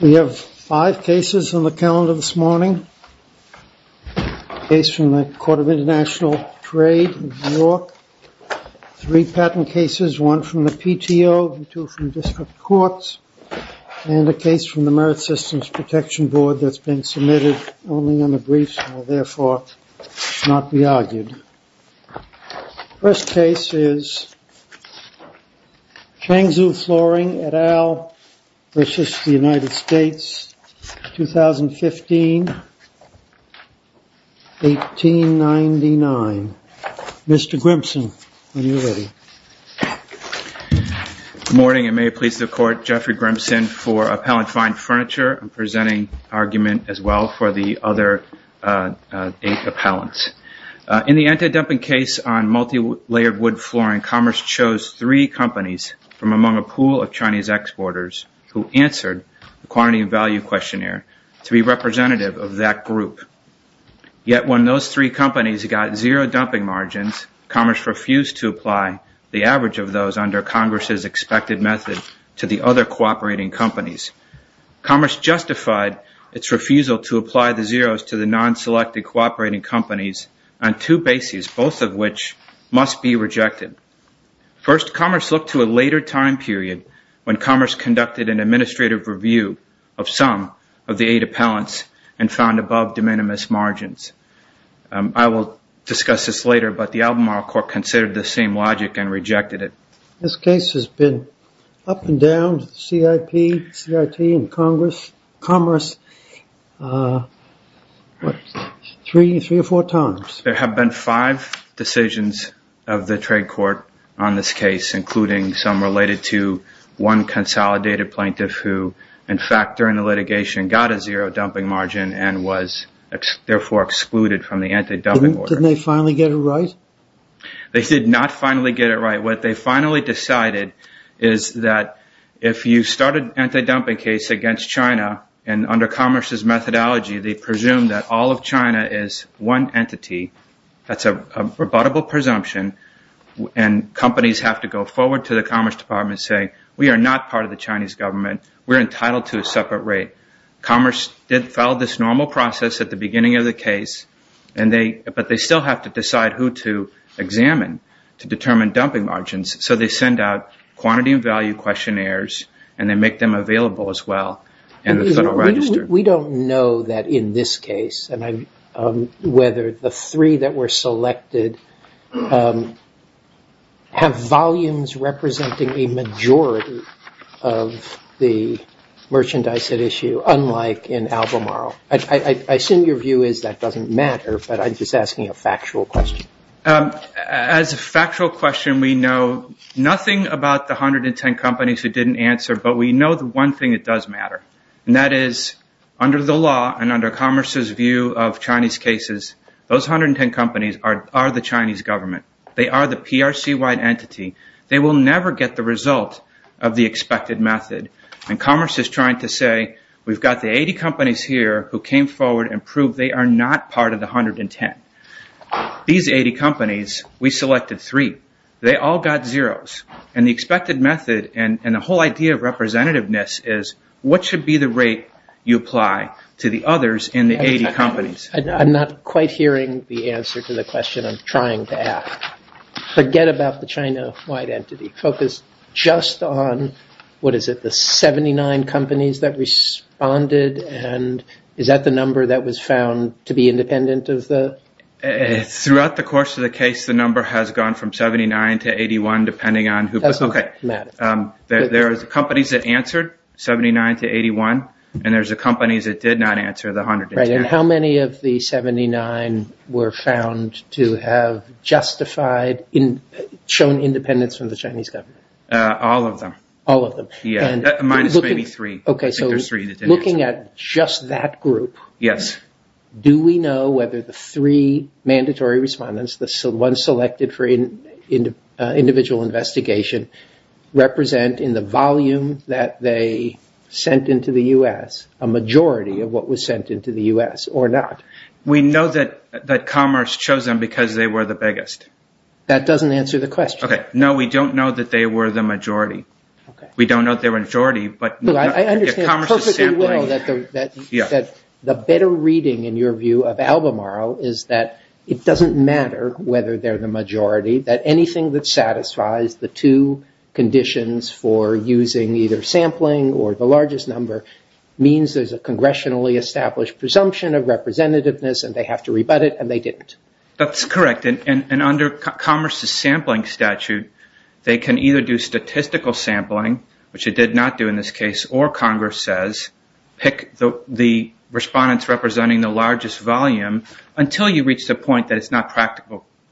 We have five cases on the calendar this morning. A case from the Court of International Trade in New York, three patent cases, one from the PTO and two from district courts, and a case from the Merit Systems Protection Board that's been submitted only on the briefs and will therefore not be argued. The first case is Changzhou Flooring et al. v. United States, 2015, 1899. Mr. Grimson, when you're ready. Good morning, and may it please the Court. Jeffrey Grimson for Appellant Fine Furniture. I'm presenting argument as well for the other eight appellants. In the anti-dumping case on multi-layered wood flooring, Commerce chose three companies from among a pool of Chinese exporters who answered the quantity and value questionnaire to be representative of that group. Yet when those three companies got zero dumping margins, Commerce refused to apply the average of those under Congress's expected method to the other cooperating companies. Commerce justified its refusal to apply the zeros to the non-selected cooperating companies on two bases, both of which must be rejected. First, Commerce looked to a later time period when Commerce conducted an administrative review of some of the eight appellants and found above de minimis margins. I will discuss this later, but the Albemarle Court considered the same logic and rejected it. This case has been up and down with the CIP, CIT, and Commerce three or four times. There have been five decisions of the trade court on this case, including some related to one consolidated plaintiff who, in fact, during the litigation, got a zero dumping margin and was therefore excluded from the anti-dumping order. Didn't they finally get it right? They did not finally get it right. What they finally decided is that if you start an anti-dumping case against China, and under Commerce's methodology, they presume that all of China is one entity, that's a rebuttable presumption, and companies have to go forward to the Commerce Department saying, we are not part of the Chinese government. We're entitled to a separate rate. Commerce filed this normal process at the beginning of the case, but they still have to decide who to examine to determine dumping margins, so they send out quantity and value questionnaires and they make them available as well in the Federal Register. We don't know that in this case, whether the three that were selected have volumes representing a majority of the merchandise at issue, unlike in Albemarle. I assume your view is that doesn't matter, but I'm just asking a factual question. As a factual question, we know nothing about the 110 companies who didn't answer, but we know the one thing that does matter, and that is, under the law and under Commerce's view of Chinese cases, those 110 companies are the Chinese government. They are the PRC-wide entity. They will never get the result of the expected method, and Commerce is trying to say, we've got the 80 companies here who came forward and proved they are not part of the 110. These 80 companies, we selected three. They all got zeros, and the expected method and the whole idea of representativeness is what should be the rate you apply to the others in the 80 companies? I'm not quite hearing the answer to the question I'm trying to ask. Forget about the China-wide entity. You focused just on, what is it, the 79 companies that responded, and is that the number that was found to be independent of the? Throughout the course of the case, the number has gone from 79 to 81, depending on who. That doesn't matter. There are the companies that answered, 79 to 81, and there are the companies that did not answer, the 110. Right, and how many of the 79 were found to have justified, shown independence from the Chinese government? All of them. All of them. Minus maybe three. Looking at just that group, do we know whether the three mandatory respondents, the ones selected for individual investigation, represent in the volume that they sent into the U.S., a majority of what was sent into the U.S., or not? We know that Commerce chose them because they were the biggest. That doesn't answer the question. No, we don't know that they were the majority. We don't know their majority, but Commerce is sampling. I understand perfectly well that the better reading, in your view, of Albemarle, is that it doesn't matter whether they're the majority, that anything that satisfies the two conditions for using either sampling or the largest number means there's a congressionally established presumption of representativeness and they have to rebut it, and they didn't. That's correct, and under Commerce's sampling statute, they can either do statistical sampling, which it did not do in this case, or, Congress says, pick the respondents representing the largest volume until you reach the point that it's not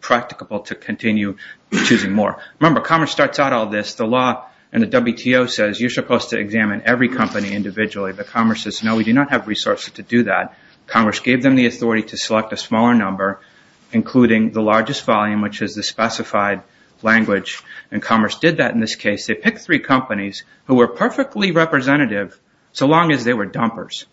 practicable to continue choosing more. Remember, Commerce starts out all this. The law and the WTO says you're supposed to examine every company individually, but Commerce says, no, we do not have resources to do that. Commerce gave them the authority to select a smaller number, including the largest volume, which is the specified language, and Commerce did that in this case. They picked three companies who were perfectly representative, so long as they were dumpers.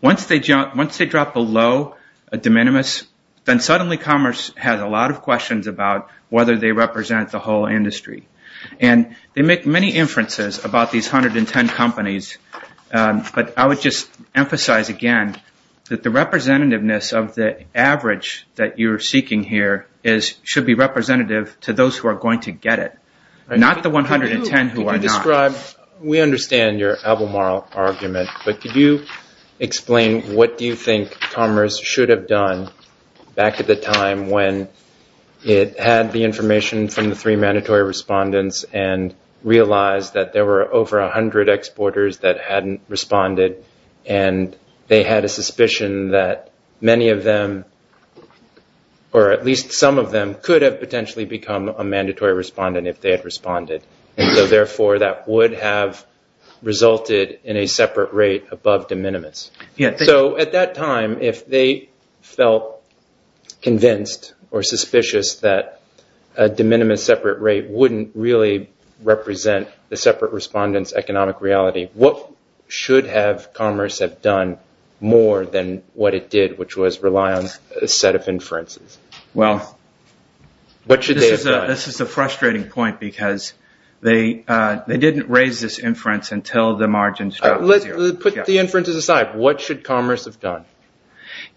Once they drop below a de minimis, then suddenly Commerce has a lot of questions about whether they represent the whole industry, and they make many inferences about these 110 companies, but I would just emphasize again that the representativeness of the average that you're seeking here should be representative to those who are going to get it, not the 110 who are not. We understand your albemarle argument, but could you explain what do you think Commerce should have done back at the time when it had the information from the three mandatory respondents and realized that there were over 100 exporters that hadn't responded and they had a suspicion that many of them, or at least some of them, could have potentially become a mandatory respondent if they had responded, and so therefore that would have resulted in a separate rate above de minimis. At that time, if they felt convinced or suspicious that a de minimis separate rate wouldn't really represent the separate respondent's economic reality, what should have Commerce have done more than what it did, which was rely on a set of inferences? Well, this is a frustrating point because they didn't raise this inference until the margins dropped to zero. Put the inferences aside. What should Commerce have done?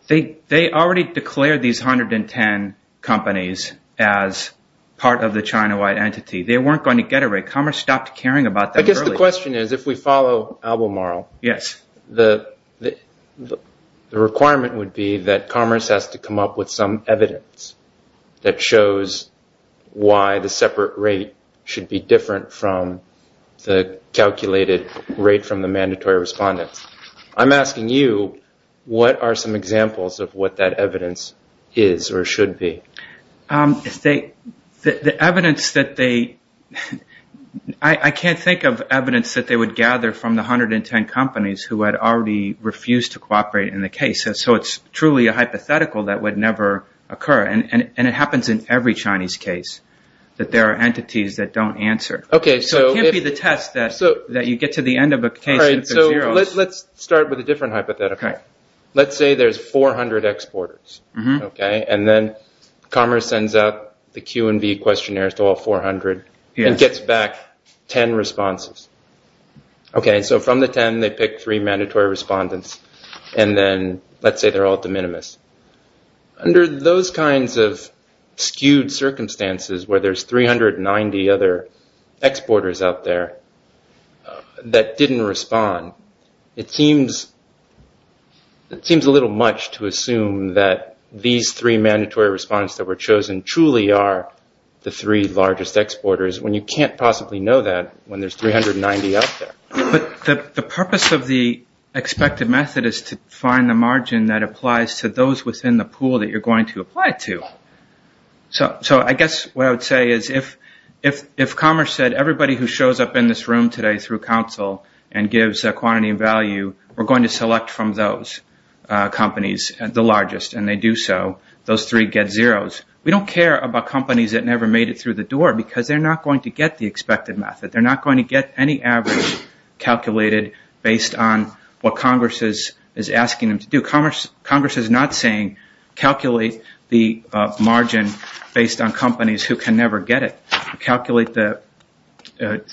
They already declared these 110 companies as part of the China-wide entity. They weren't going to get a rate. Commerce stopped caring about them early. I guess the question is if we follow albemarle, the requirement would be that Commerce has to come up with some evidence that shows why the separate rate should be different from the calculated rate from the mandatory respondents. I'm asking you what are some examples of what that evidence is or should be? I can't think of evidence that they would gather from the 110 companies who had already refused to cooperate in the case, so it's truly a hypothetical that would never occur, and it happens in every Chinese case that there are entities that don't answer. It can't be the test that you get to the end of a case if there's zero. Let's start with a different hypothetical. Let's say there's 400 exporters, and then Commerce sends out the Q&V questionnaires to all 400 and gets back 10 responses. From the 10, they pick three mandatory respondents, and then let's say they're all de minimis. Under those kinds of skewed circumstances where there's 390 other exporters out there that didn't respond, it seems a little much to assume that these three mandatory respondents that were chosen truly are the three largest exporters when you can't possibly know that when there's 390 out there. The purpose of the expected method is to find the margin that applies to those within the pool that you're going to apply to. I guess what I would say is if Commerce said, everybody who shows up in this room today through council and gives a quantity of value, we're going to select from those companies, the largest, and they do so, those three get zeros. We don't care about companies that never made it through the door because they're not going to get the expected method. They're not going to get any average calculated based on what Congress is asking them to do. Congress is not saying calculate the margin based on companies who can never get it.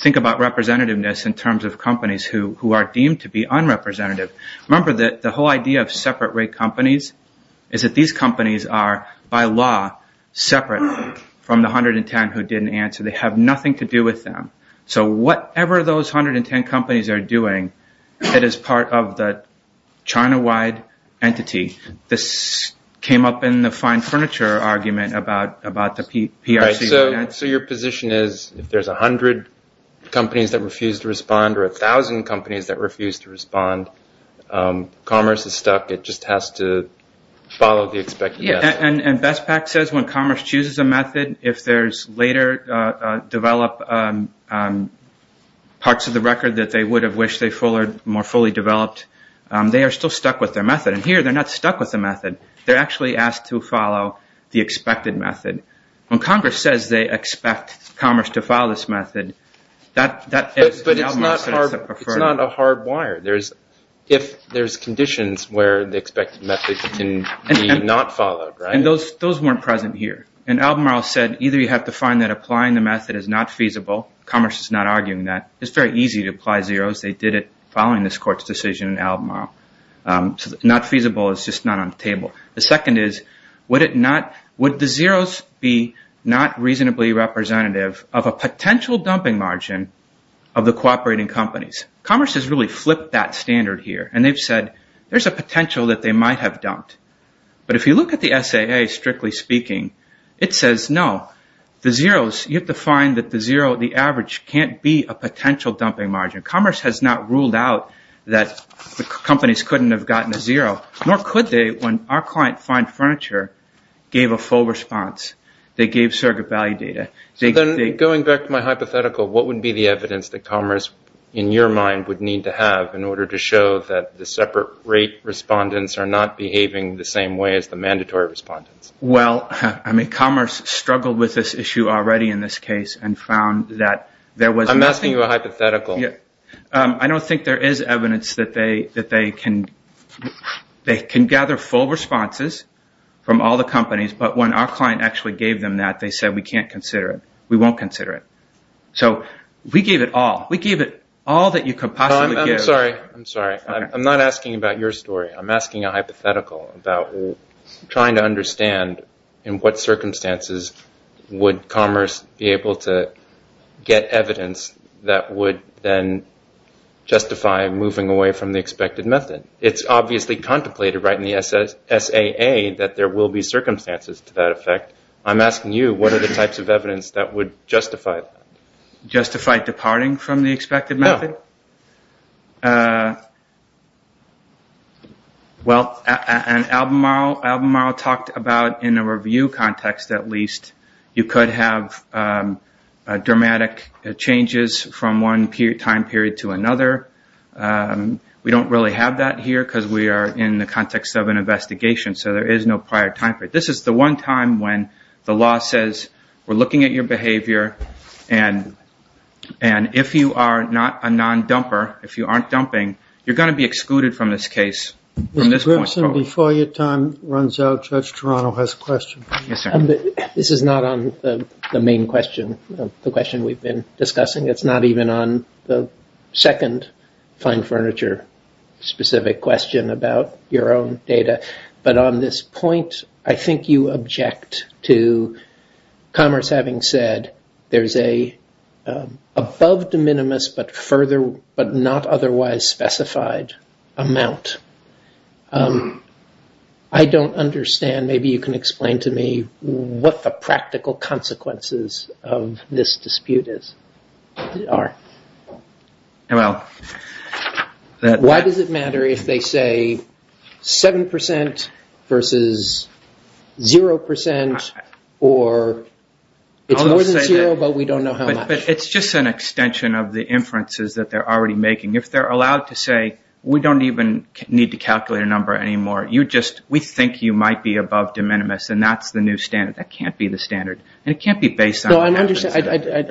Think about representativeness in terms of companies who are deemed to be unrepresentative. Remember that the whole idea of separate rate companies is that these companies are, by law, separate from the 110 who didn't answer. They have nothing to do with them. Whatever those 110 companies are doing, it is part of the China-wide entity. This came up in the fine furniture argument about the PRC. Your position is if there's 100 companies that refuse to respond or 1,000 companies that refuse to respond, Commerce is stuck. It just has to follow the expected method. BestPack says when Commerce chooses a method, if there's later developed parts of the record that they would have wished they had more fully developed, they are still stuck with their method. Here, they're not stuck with the method. They're actually asked to follow the expected method. When Congress says they expect Commerce to follow this method, that is an albemarle sort of thing. But it's not a hard wire. If there's conditions where the expected method can be not followed, right? Those weren't present here. Albemarle said either you have to find that applying the method is not feasible. Commerce is not arguing that. It's very easy to apply zeros. They did it following this court's decision in Albemarle. Not feasible is just not on the table. The second is would the zeros be not reasonably representative of a potential dumping margin of the cooperating companies? Commerce has really flipped that standard here, and they've said there's a potential that they might have dumped. But if you look at the SAA, strictly speaking, it says no. The zeros, you have to find that the zero, the average can't be a potential dumping margin. Commerce has not ruled out that the companies couldn't have gotten a zero, nor could they when our client, Fine Furniture, gave a full response. They gave surrogate value data. Then going back to my hypothetical, what would be the evidence that Commerce, in your mind, would need to have in order to show that the separate rate respondents are not behaving the same way as the mandatory respondents? Well, I mean, Commerce struggled with this issue already in this case and found that there was nothing. I'm asking you a hypothetical. I don't think there is evidence that they can gather full responses from all the companies, but when our client actually gave them that, they said we can't consider it. We won't consider it. So we gave it all. We gave it all that you could possibly give. I'm sorry. I'm sorry. I'm not asking about your story. I'm asking a hypothetical about trying to understand in what circumstances would Commerce be able to get evidence that would then justify moving away from the expected method. It's obviously contemplated right in the SAA that there will be circumstances to that effect. I'm asking you what are the types of evidence that would justify that? Justify departing from the expected method? No. Well, Albemarle talked about in a review context, at least, you could have dramatic changes from one time period to another. We don't really have that here because we are in the context of an investigation, so there is no prior time period. This is the one time when the law says we're looking at your behavior and if you are not a non-dumper, if you aren't dumping, you're going to be excluded from this case from this point forward. Before your time runs out, Judge Toronto has a question. Yes, sir. This is not on the main question, the question we've been discussing. It's not even on the second fine furniture specific question about your own data. But on this point, I think you object to Commerce having said there's an above de minimis but not otherwise specified amount. I don't understand, maybe you can explain to me what the practical consequences of this dispute are. Well... Why does it matter if they say 7% versus 0% or it's more than 0% but we don't know how much? It's just an extension of the inferences that they're already making. If they're allowed to say we don't even need to calculate a number anymore, we think you might be above de minimis and that's the new standard. That can't be the standard and it can't be based on... I'm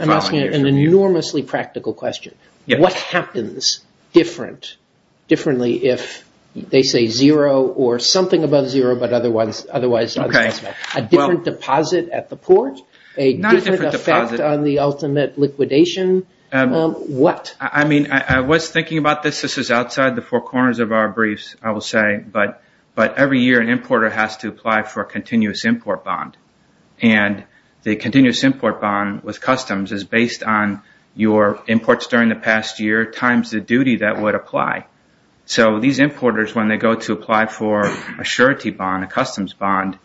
asking an enormously practical question. What happens differently if they say 0 or something above 0 but otherwise... A different deposit at the port? A different effect on the ultimate liquidation? What? I mean, I was thinking about this. This is outside the four corners of our briefs, I will say. But every year an importer has to apply for a continuous import bond. And the continuous import bond with customs is based on your imports during the past year times the duty that would apply. So these importers, when they go to apply for a surety bond, a customs bond,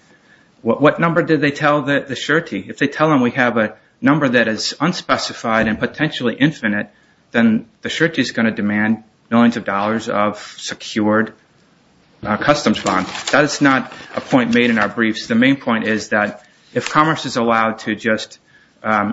what number did they tell the surety? If they tell them we have a number that is unspecified and potentially infinite, then the surety is going to demand millions of dollars of secured customs bonds. That is not a point made in our briefs. The main point is that if commerce is allowed to just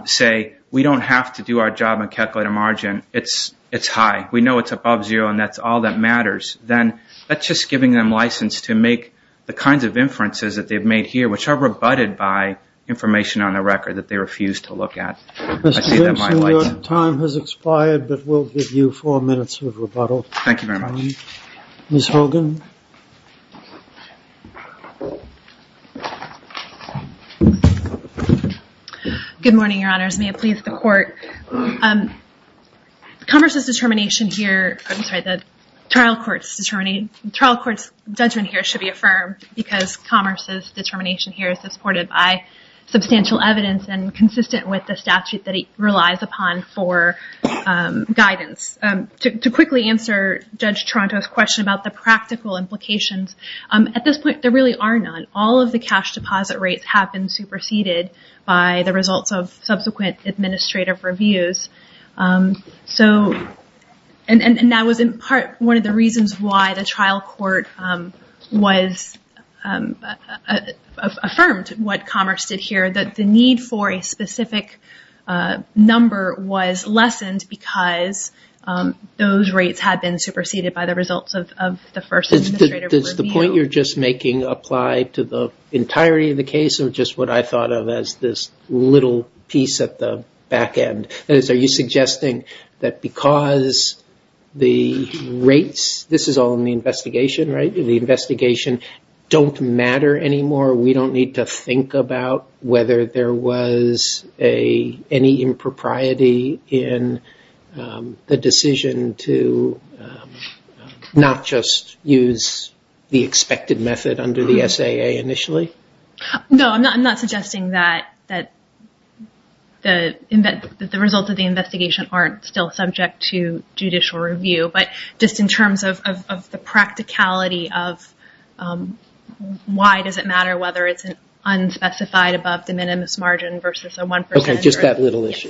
say, we don't have to do our job and calculate a margin, it's high. We know it's above 0 and that's all that matters. Then that's just giving them license to make the kinds of inferences that they've made here, which are rebutted by information on the record that they refuse to look at. Mr. Lipson, your time has expired, but we'll give you four minutes of rebuttal. Thank you very much. Ms. Hogan? Good morning, Your Honors. May it please the Court. Commerce's determination here, I'm sorry, the trial court's judgment here should be affirmed because commerce's determination here is supported by substantial evidence and consistent with the statute that it relies upon for guidance. To quickly answer Judge Toronto's question about the practical implications, at this point there really are none. All of the cash deposit rates have been superseded by the results of subsequent administrative reviews. That was in part one of the reasons why the trial court was affirmed, what commerce did here. The need for a specific number was lessened because those rates had been superseded by the results of the first administrative review. Does the point you're just making apply to the entirety of the case or just what I thought of as this little piece at the back end? That is, are you suggesting that because the rates, this is all in the investigation, right, the investigation, don't matter anymore, we don't need to think about whether there was any impropriety in the decision to not just use the expected method under the SAA initially? No, I'm not suggesting that the results of the investigation aren't still subject to judicial review. But just in terms of the practicality of why does it matter whether it's unspecified above the minimus margin versus a 1% rate. Okay, just that little issue.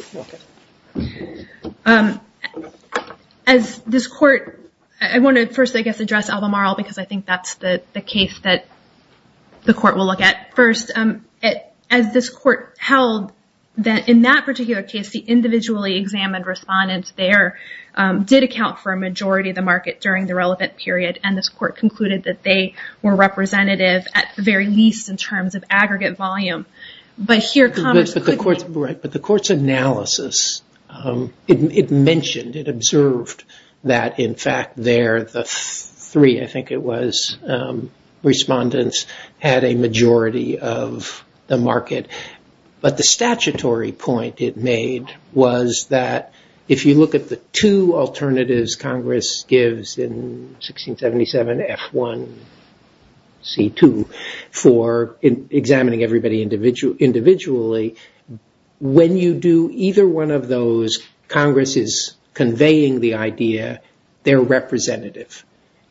As this court, I want to first I guess address Albemarle because I think that's the case that the court will look at first. As this court held that in that particular case the individually examined respondents there did account for a majority of the market during the relevant period and this court concluded that they were representative at the very least in terms of aggregate volume. But the court's analysis, it mentioned, it observed that in fact there the three, I think it was, respondents had a majority of the market. But the statutory point it made was that if you look at the two alternatives Congress gives in 1677, F1, C2, for examining everybody individually, when you do either one of those Congress is conveying the idea they're representative.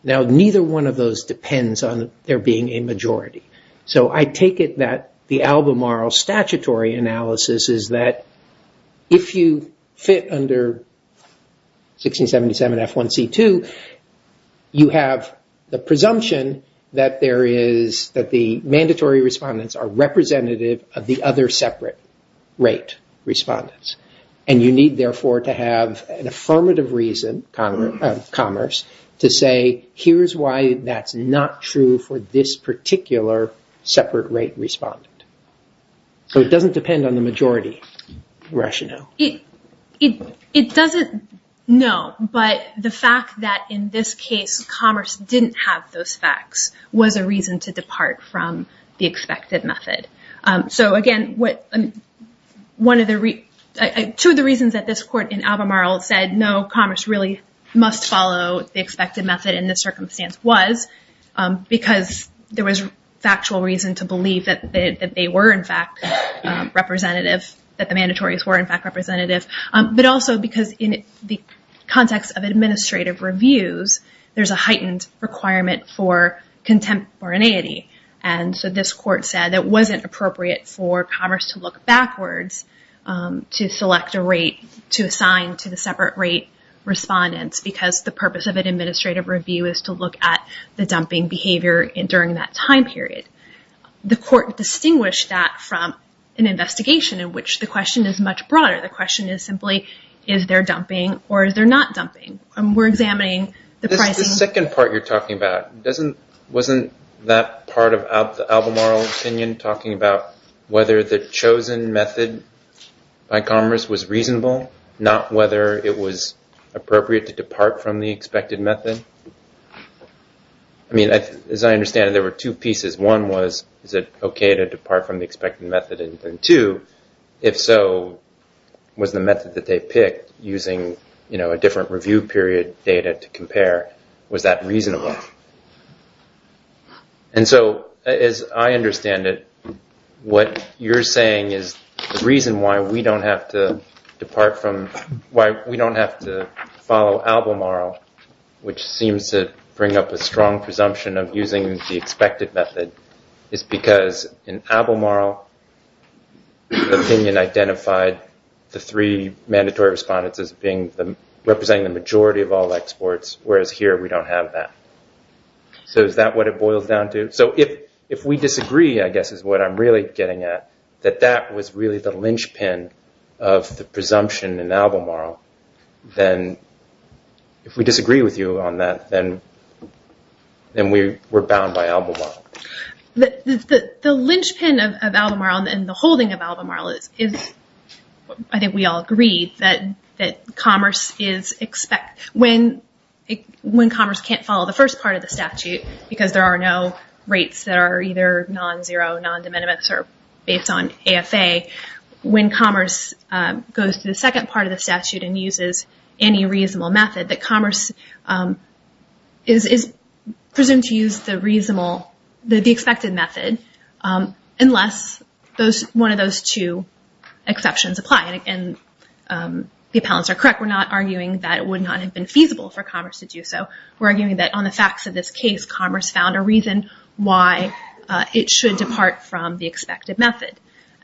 Now neither one of those depends on there being a majority. So I take it that the Albemarle statutory analysis is that if you fit under 1677, F1, C2, you have the presumption that the mandatory respondents are representative of the other separate rate respondents. And you need therefore to have an affirmative reason, commerce, to say here's why that's not true for this particular separate rate respondent. So it doesn't depend on the majority rationale. It doesn't, no, but the fact that in this case commerce didn't have those facts was a reason to depart from the expected method. So again, two of the reasons that this court in Albemarle said no, commerce really must follow the expected method in this circumstance was because there was factual reason to believe that they were in fact representative, that the rate was representative, but also because in the context of administrative reviews, there's a heightened requirement for contemporaneity. And so this court said it wasn't appropriate for commerce to look backwards to select a rate to assign to the separate rate respondents because the purpose of an administrative review is to look at the dumping behavior during that time period. The court distinguished that from an investigation in which the question is much broader. The question is simply is there dumping or is there not dumping? We're examining the pricing. The second part you're talking about, wasn't that part of the Albemarle opinion talking about whether the chosen method by commerce was reasonable, not whether it was appropriate to depart from the expected method? I mean, as I understand it, there were two pieces. One was, is it okay to depart from the expected method? And two, if so, was the method that they picked using a different review period data to compare, was that reasonable? And so as I understand it, what you're saying is the reason why we don't have to follow Albemarle, which seems to bring up a strong presumption of using the Albemarle opinion identified the three mandatory respondents as representing the majority of all exports, whereas here we don't have that. So is that what it boils down to? So if we disagree, I guess is what I'm really getting at, that that was really the linchpin of the presumption in Albemarle, then if we disagree with you on that, then we're bound by Albemarle. The linchpin of Albemarle and the holding of Albemarle is, I think we all agree, that commerce can't follow the first part of the statute because there are no rates that are either non-zero, non-de minimis, or based on AFA. When commerce goes to the second part of the statute and uses any reasonable method, that commerce is presumed to use the expected method unless one of those two exceptions apply. And the appellants are correct. We're not arguing that it would not have been feasible for commerce to do so. We're arguing that on the facts of this case, commerce found a reason why it should depart from the expected method.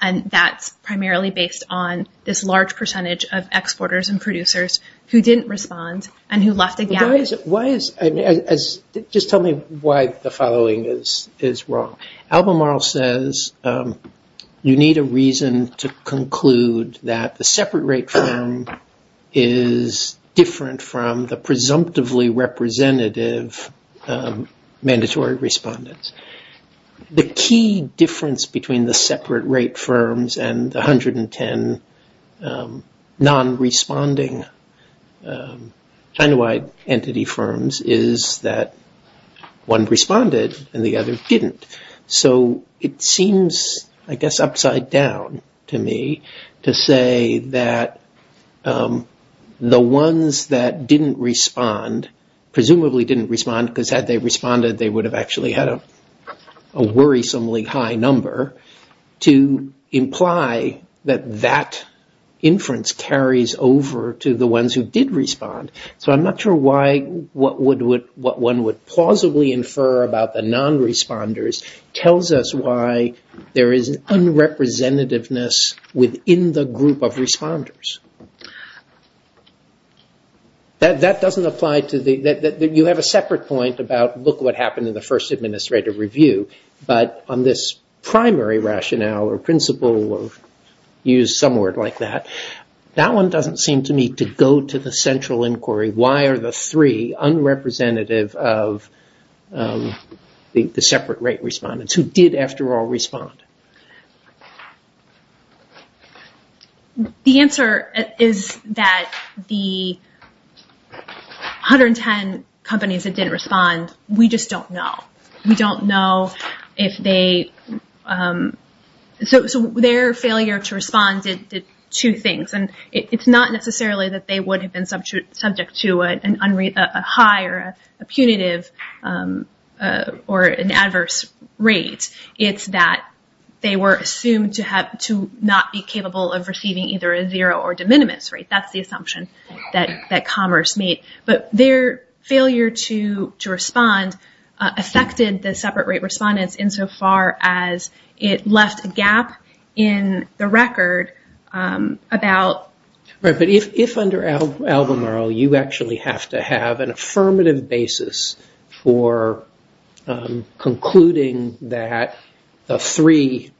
And that's primarily based on this large percentage of exporters and producers who didn't respond and who left a gap. Just tell me why the following is wrong. Albemarle says you need a reason to conclude that the separate rate firm is different from the presumptively representative mandatory respondents. The key difference between the separate rate firms and the 110 non-responding China-wide entity firms is that one responded and the other didn't. So it seems, I guess, upside down to me to say that the ones that didn't respond, presumably didn't respond because had they responded, they would have actually had a worrisomely high number, to imply that that inference carries over to the ones who did respond. So I'm not sure why what one would plausibly infer about the non-responders tells us why there is an unrepresentativeness within the group of responders. That doesn't apply to the, you have a separate point about look what happened in the first administrative review, but on this primary rationale or principle of use some word like that, that one doesn't seem to me to go to the central inquiry. Why are the three unrepresentative of the separate rate respondents who did, after all, respond? The answer is that the 110 companies that didn't respond, we just don't know. We don't know if they, so their failure to respond did two things. It's not necessarily that they would have been subject to a high or a punitive or an adverse rate. It's that they were assumed to not be capable of receiving either a zero or de minimis rate. That's the assumption that Commerce made. But their failure to respond affected the separate rate respondents in so far as it left a gap in the record about... If under Albemarle you actually have to have an affirmative basis for concluding that the three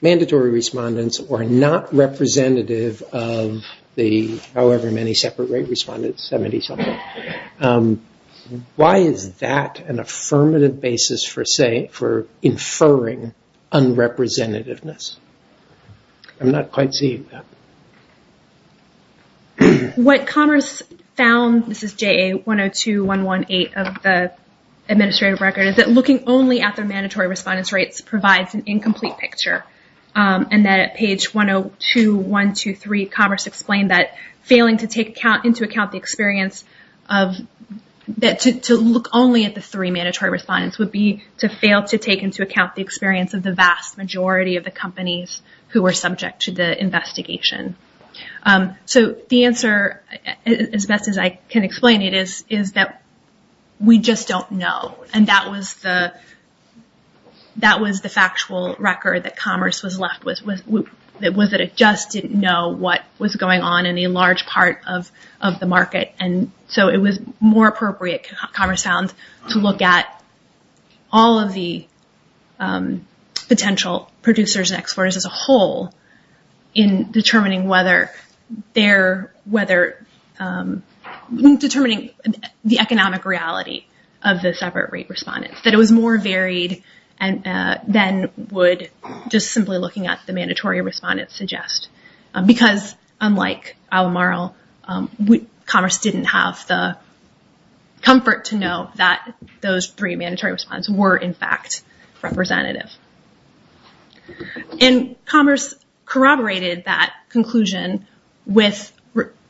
mandatory respondents were not representative of the however many separate rate respondents, 70 something, why is that an affirmative basis for inferring unrepresentativeness? I'm not quite seeing that. What Commerce found, this is JA102118 of the administrative record, is that looking only at the mandatory respondents' rates provides an incomplete picture. And that at page 102123 Commerce explained that failing to take into account the experience of... To look only at the three mandatory respondents would be to fail to take into account the experience of the vast majority of the companies who were subject to the investigation. So the answer, as best as I can explain it, is that we just don't know. And that was the factual record that Commerce was left with, was that it just didn't know what was going on in a large part of the market. And so it was more appropriate, Commerce found, to look at all of the potential producers and exporters as a whole in determining the economic reality of the separate rate respondents, that it was more varied than would just simply looking at the mandatory respondents suggest. Because, unlike Alamaro, Commerce didn't have the comfort to know that those three mandatory respondents were, in fact, representative. And Commerce corroborated that conclusion with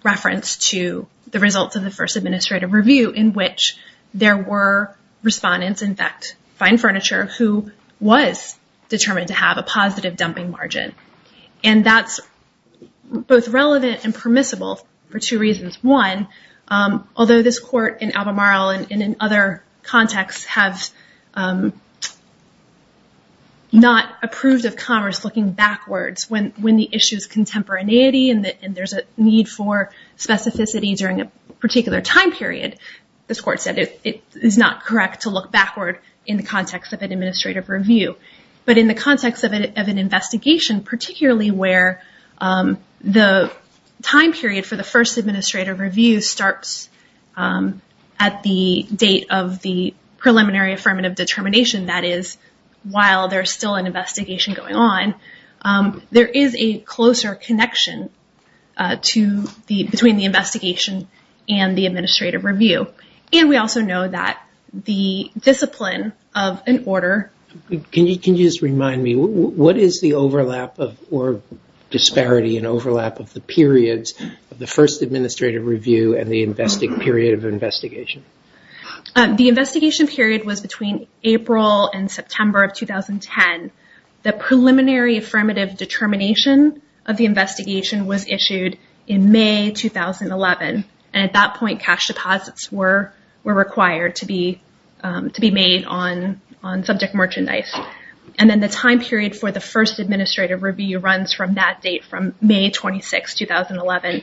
reference to the results of the first administrative review in which there were respondents, in fact, fine furniture, who was determined to have a positive dumping margin. And that's both relevant and permissible for two reasons. One, although this court in Alamaro and in other contexts have not approved of Commerce looking backwards, when the issue is contemporaneity and there's a need for specificity during a particular time period, this court said it is not correct to look backward in the context of an administrative review. But in the context of an investigation, particularly where the time period for the first administrative review starts at the date of the preliminary affirmative determination, that is, while there's still an investigation going on, there is a closer connection between the investigation and the administrative review. And we also know that the discipline of an order... Can you just remind me, what is the overlap or disparity and overlap of the periods of the first administrative review and the period of investigation? The investigation period was between April and September of 2010. The preliminary affirmative determination of the investigation was issued in May 2011. And at that point, cash deposits were required to be made on subject merchandise. And then the time period for the first administrative review runs from that date, from May 26, 2011,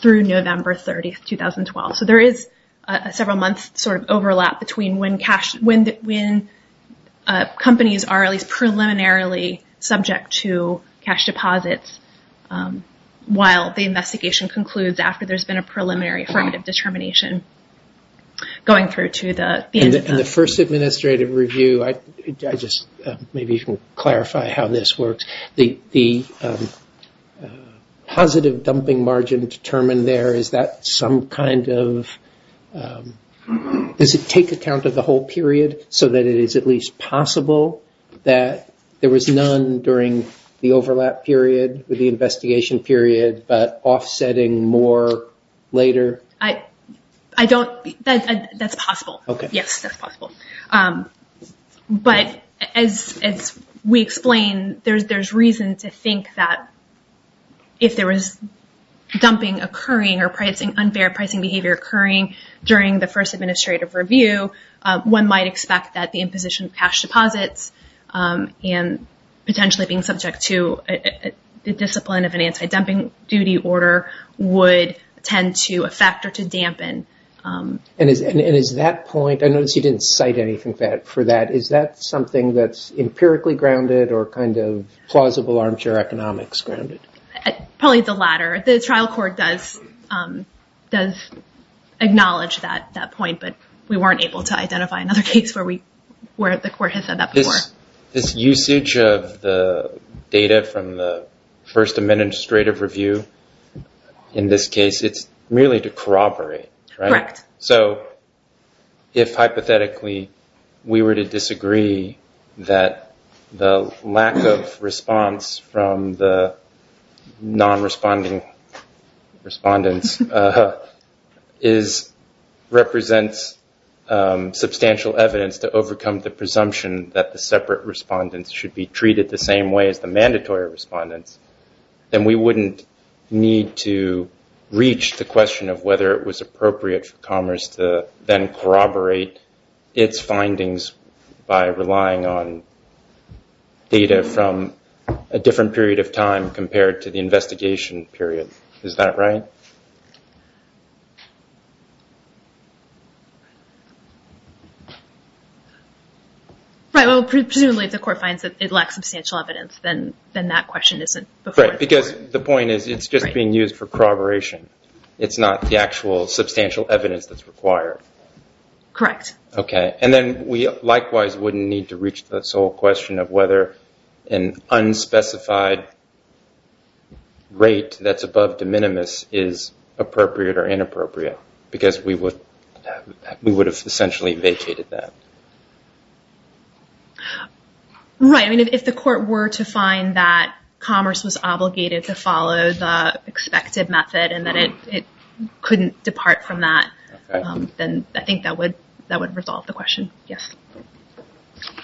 through November 30, 2012. So there is a several-month sort of overlap between when companies are at least preliminarily subject to cash deposits while the investigation concludes after there's been a preliminary affirmative determination going through to the end of the... And the first administrative review... Maybe you can clarify how this works. The positive dumping margin determined there, is that some kind of... Does it take account of the whole period so that it is at least possible that there was none during the overlap period with the investigation period but offsetting more later? I don't... That's possible. Okay. Yes, that's possible. But as we explained, there's reason to think that if there was dumping occurring or unfair pricing behavior occurring during the first administrative review, one might expect that the imposition of cash deposits and potentially being subject to the discipline of an anti-dumping duty order would tend to affect or to dampen... And is that point... I noticed you didn't cite anything for that. Is that something that's empirically grounded or kind of plausible armchair economics grounded? Probably the latter. The trial court does acknowledge that point, but we weren't able to identify another case where the court has said that before. This usage of the data from the first administrative review in this case, it's merely to corroborate, right? Correct. So if hypothetically we were to disagree that the lack of response from the non-responding respondents represents substantial evidence to overcome the presumption that the separate respondents should be treated the same way as the mandatory respondents, then we wouldn't need to reach the question of whether it was appropriate for Commerce to then corroborate its findings by relying on data from a different period of time compared to the investigation period. Is that right? Presumably if the court finds that it lacks substantial evidence, then that question isn't before the court. Because the point is it's just being used for corroboration. It's not the actual substantial evidence that's required. Correct. Okay. And then we likewise wouldn't need to reach this whole question of whether an unspecified rate that's above de minimis is appropriate or inappropriate, because we would have essentially vacated that. Right. I mean, if the court were to find that Commerce was obligated to follow the expected method and that it couldn't depart from that, then I think that would resolve the question. Yes.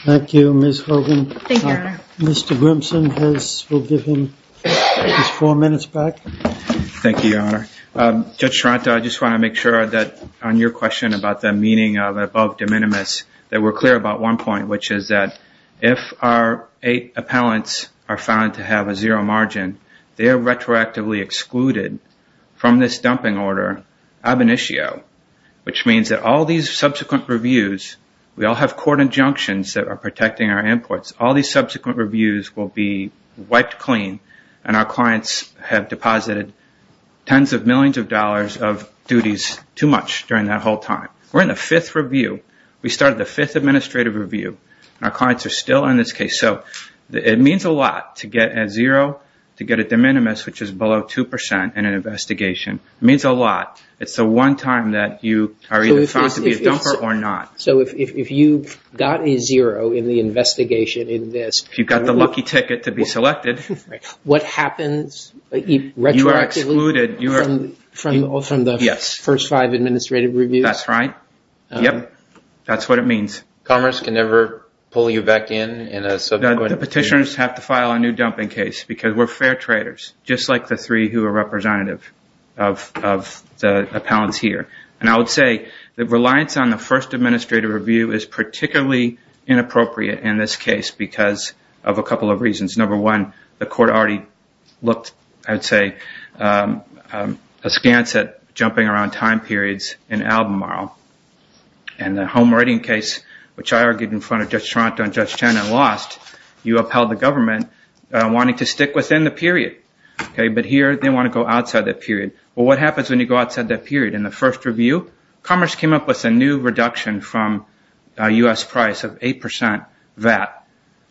Thank you, Ms. Hogan. Thank you, Your Honor. Mr. Grimson, we'll give him his four minutes back. Thank you, Your Honor. Judge Taranto, I just want to make sure that on your question about the meaning of above de minimis that we're clear about one point, which is that if our eight appellants are found to have a zero margin, they are retroactively excluded from this dumping order ab initio, which means that all these subsequent reviews, we all have court injunctions that are protecting our imports. All these subsequent reviews will be wiped clean, and our clients have deposited tens of millions of dollars of duties too much during that whole time. We're in the fifth review. We started the fifth administrative review, and our clients are still in this case. It means a lot to get a zero, to get a de minimis, which is below 2% in an investigation. It means a lot. It's the one time that you are either found to be a dumper or not. So if you've got a zero in the investigation in this- If you've got the lucky ticket to be selected- Right. What happens retroactively- You are excluded. From the first five administrative reviews? That's right. Yep. That's what it means. Commerce can never pull you back in in a subsequent review? The petitioners have to file a new dumping case because we're fair traders, just like the three who are representative of the appellants here. And I would say that reliance on the first administrative review is particularly inappropriate in this case because of a couple of reasons. Number one, the court already looked, I would say, askance at jumping around time periods in Albemarle. And the home writing case, which I argued in front of Judge Toronto and Judge Chen and lost, you upheld the government wanting to stick within the period. But here they want to go outside that period. Well, what happens when you go outside that period? In the first review, Commerce came up with a new reduction from a U.S. price of 8% VAT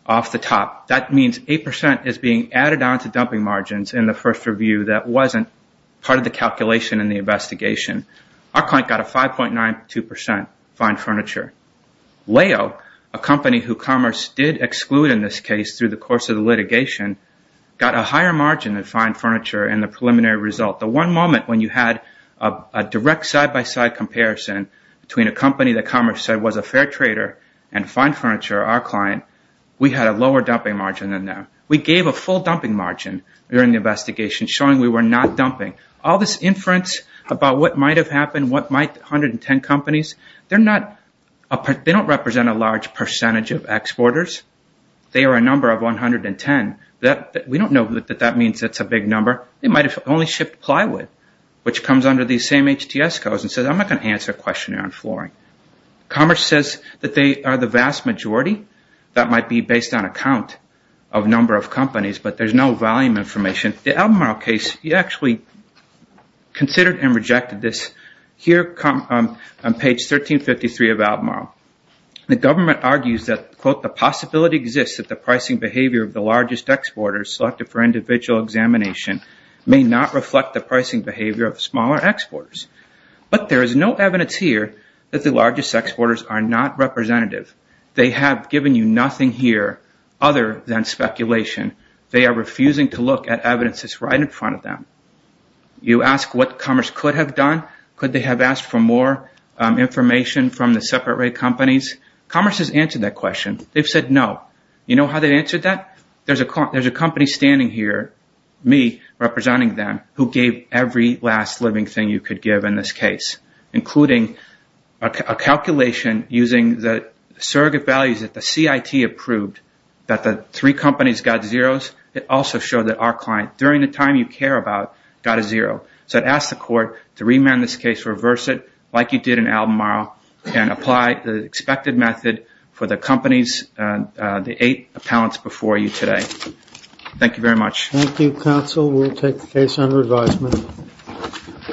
off the top. That means 8% is being added on to dumping margins in the first review that wasn't part of the calculation in the investigation. Our client got a 5.92% fine furniture. Leo, a company who Commerce did exclude in this case through the course of the litigation, got a higher margin than fine furniture in the preliminary result. The one moment when you had a direct side-by-side comparison between a company that Commerce said was a fair trader and fine furniture, our client, we had a lower dumping margin than them. We gave a full dumping margin during the investigation, showing we were not dumping. All this inference about what might have happened, what might 110 companies, they don't represent a large percentage of exporters. They are a number of 110. We don't know that that means it's a big number. It might have only shipped plywood, which comes under these same HTS codes and says I'm not going to answer a questionnaire on flooring. Commerce says that they are the vast majority. That might be based on a count of number of companies, but there's no volume information. The Albemarle case, we actually considered and rejected this. Here on page 1353 of Albemarle. The government argues that, quote, the possibility exists that the pricing behavior of the largest exporters selected for individual examination may not reflect the pricing behavior of smaller exporters. But there is no evidence here that the largest exporters are not representative. They have given you nothing here other than speculation. They are refusing to look at evidence that's right in front of them. You ask what Commerce could have done. Could they have asked for more information from the separate rate companies? Commerce has answered that question. They've said no. You know how they answered that? There's a company standing here, me representing them, who gave every last living thing you could give in this case, including a calculation using the surrogate values that the CIT approved that the three companies got zeros. It also showed that our client, during the time you care about, got a zero. So I'd ask the court to remand this case, reverse it, like you did in Albemarle, and apply the expected method for the companies, the eight appellants before you today. Thank you very much. Thank you, counsel. We'll take the case under advisement.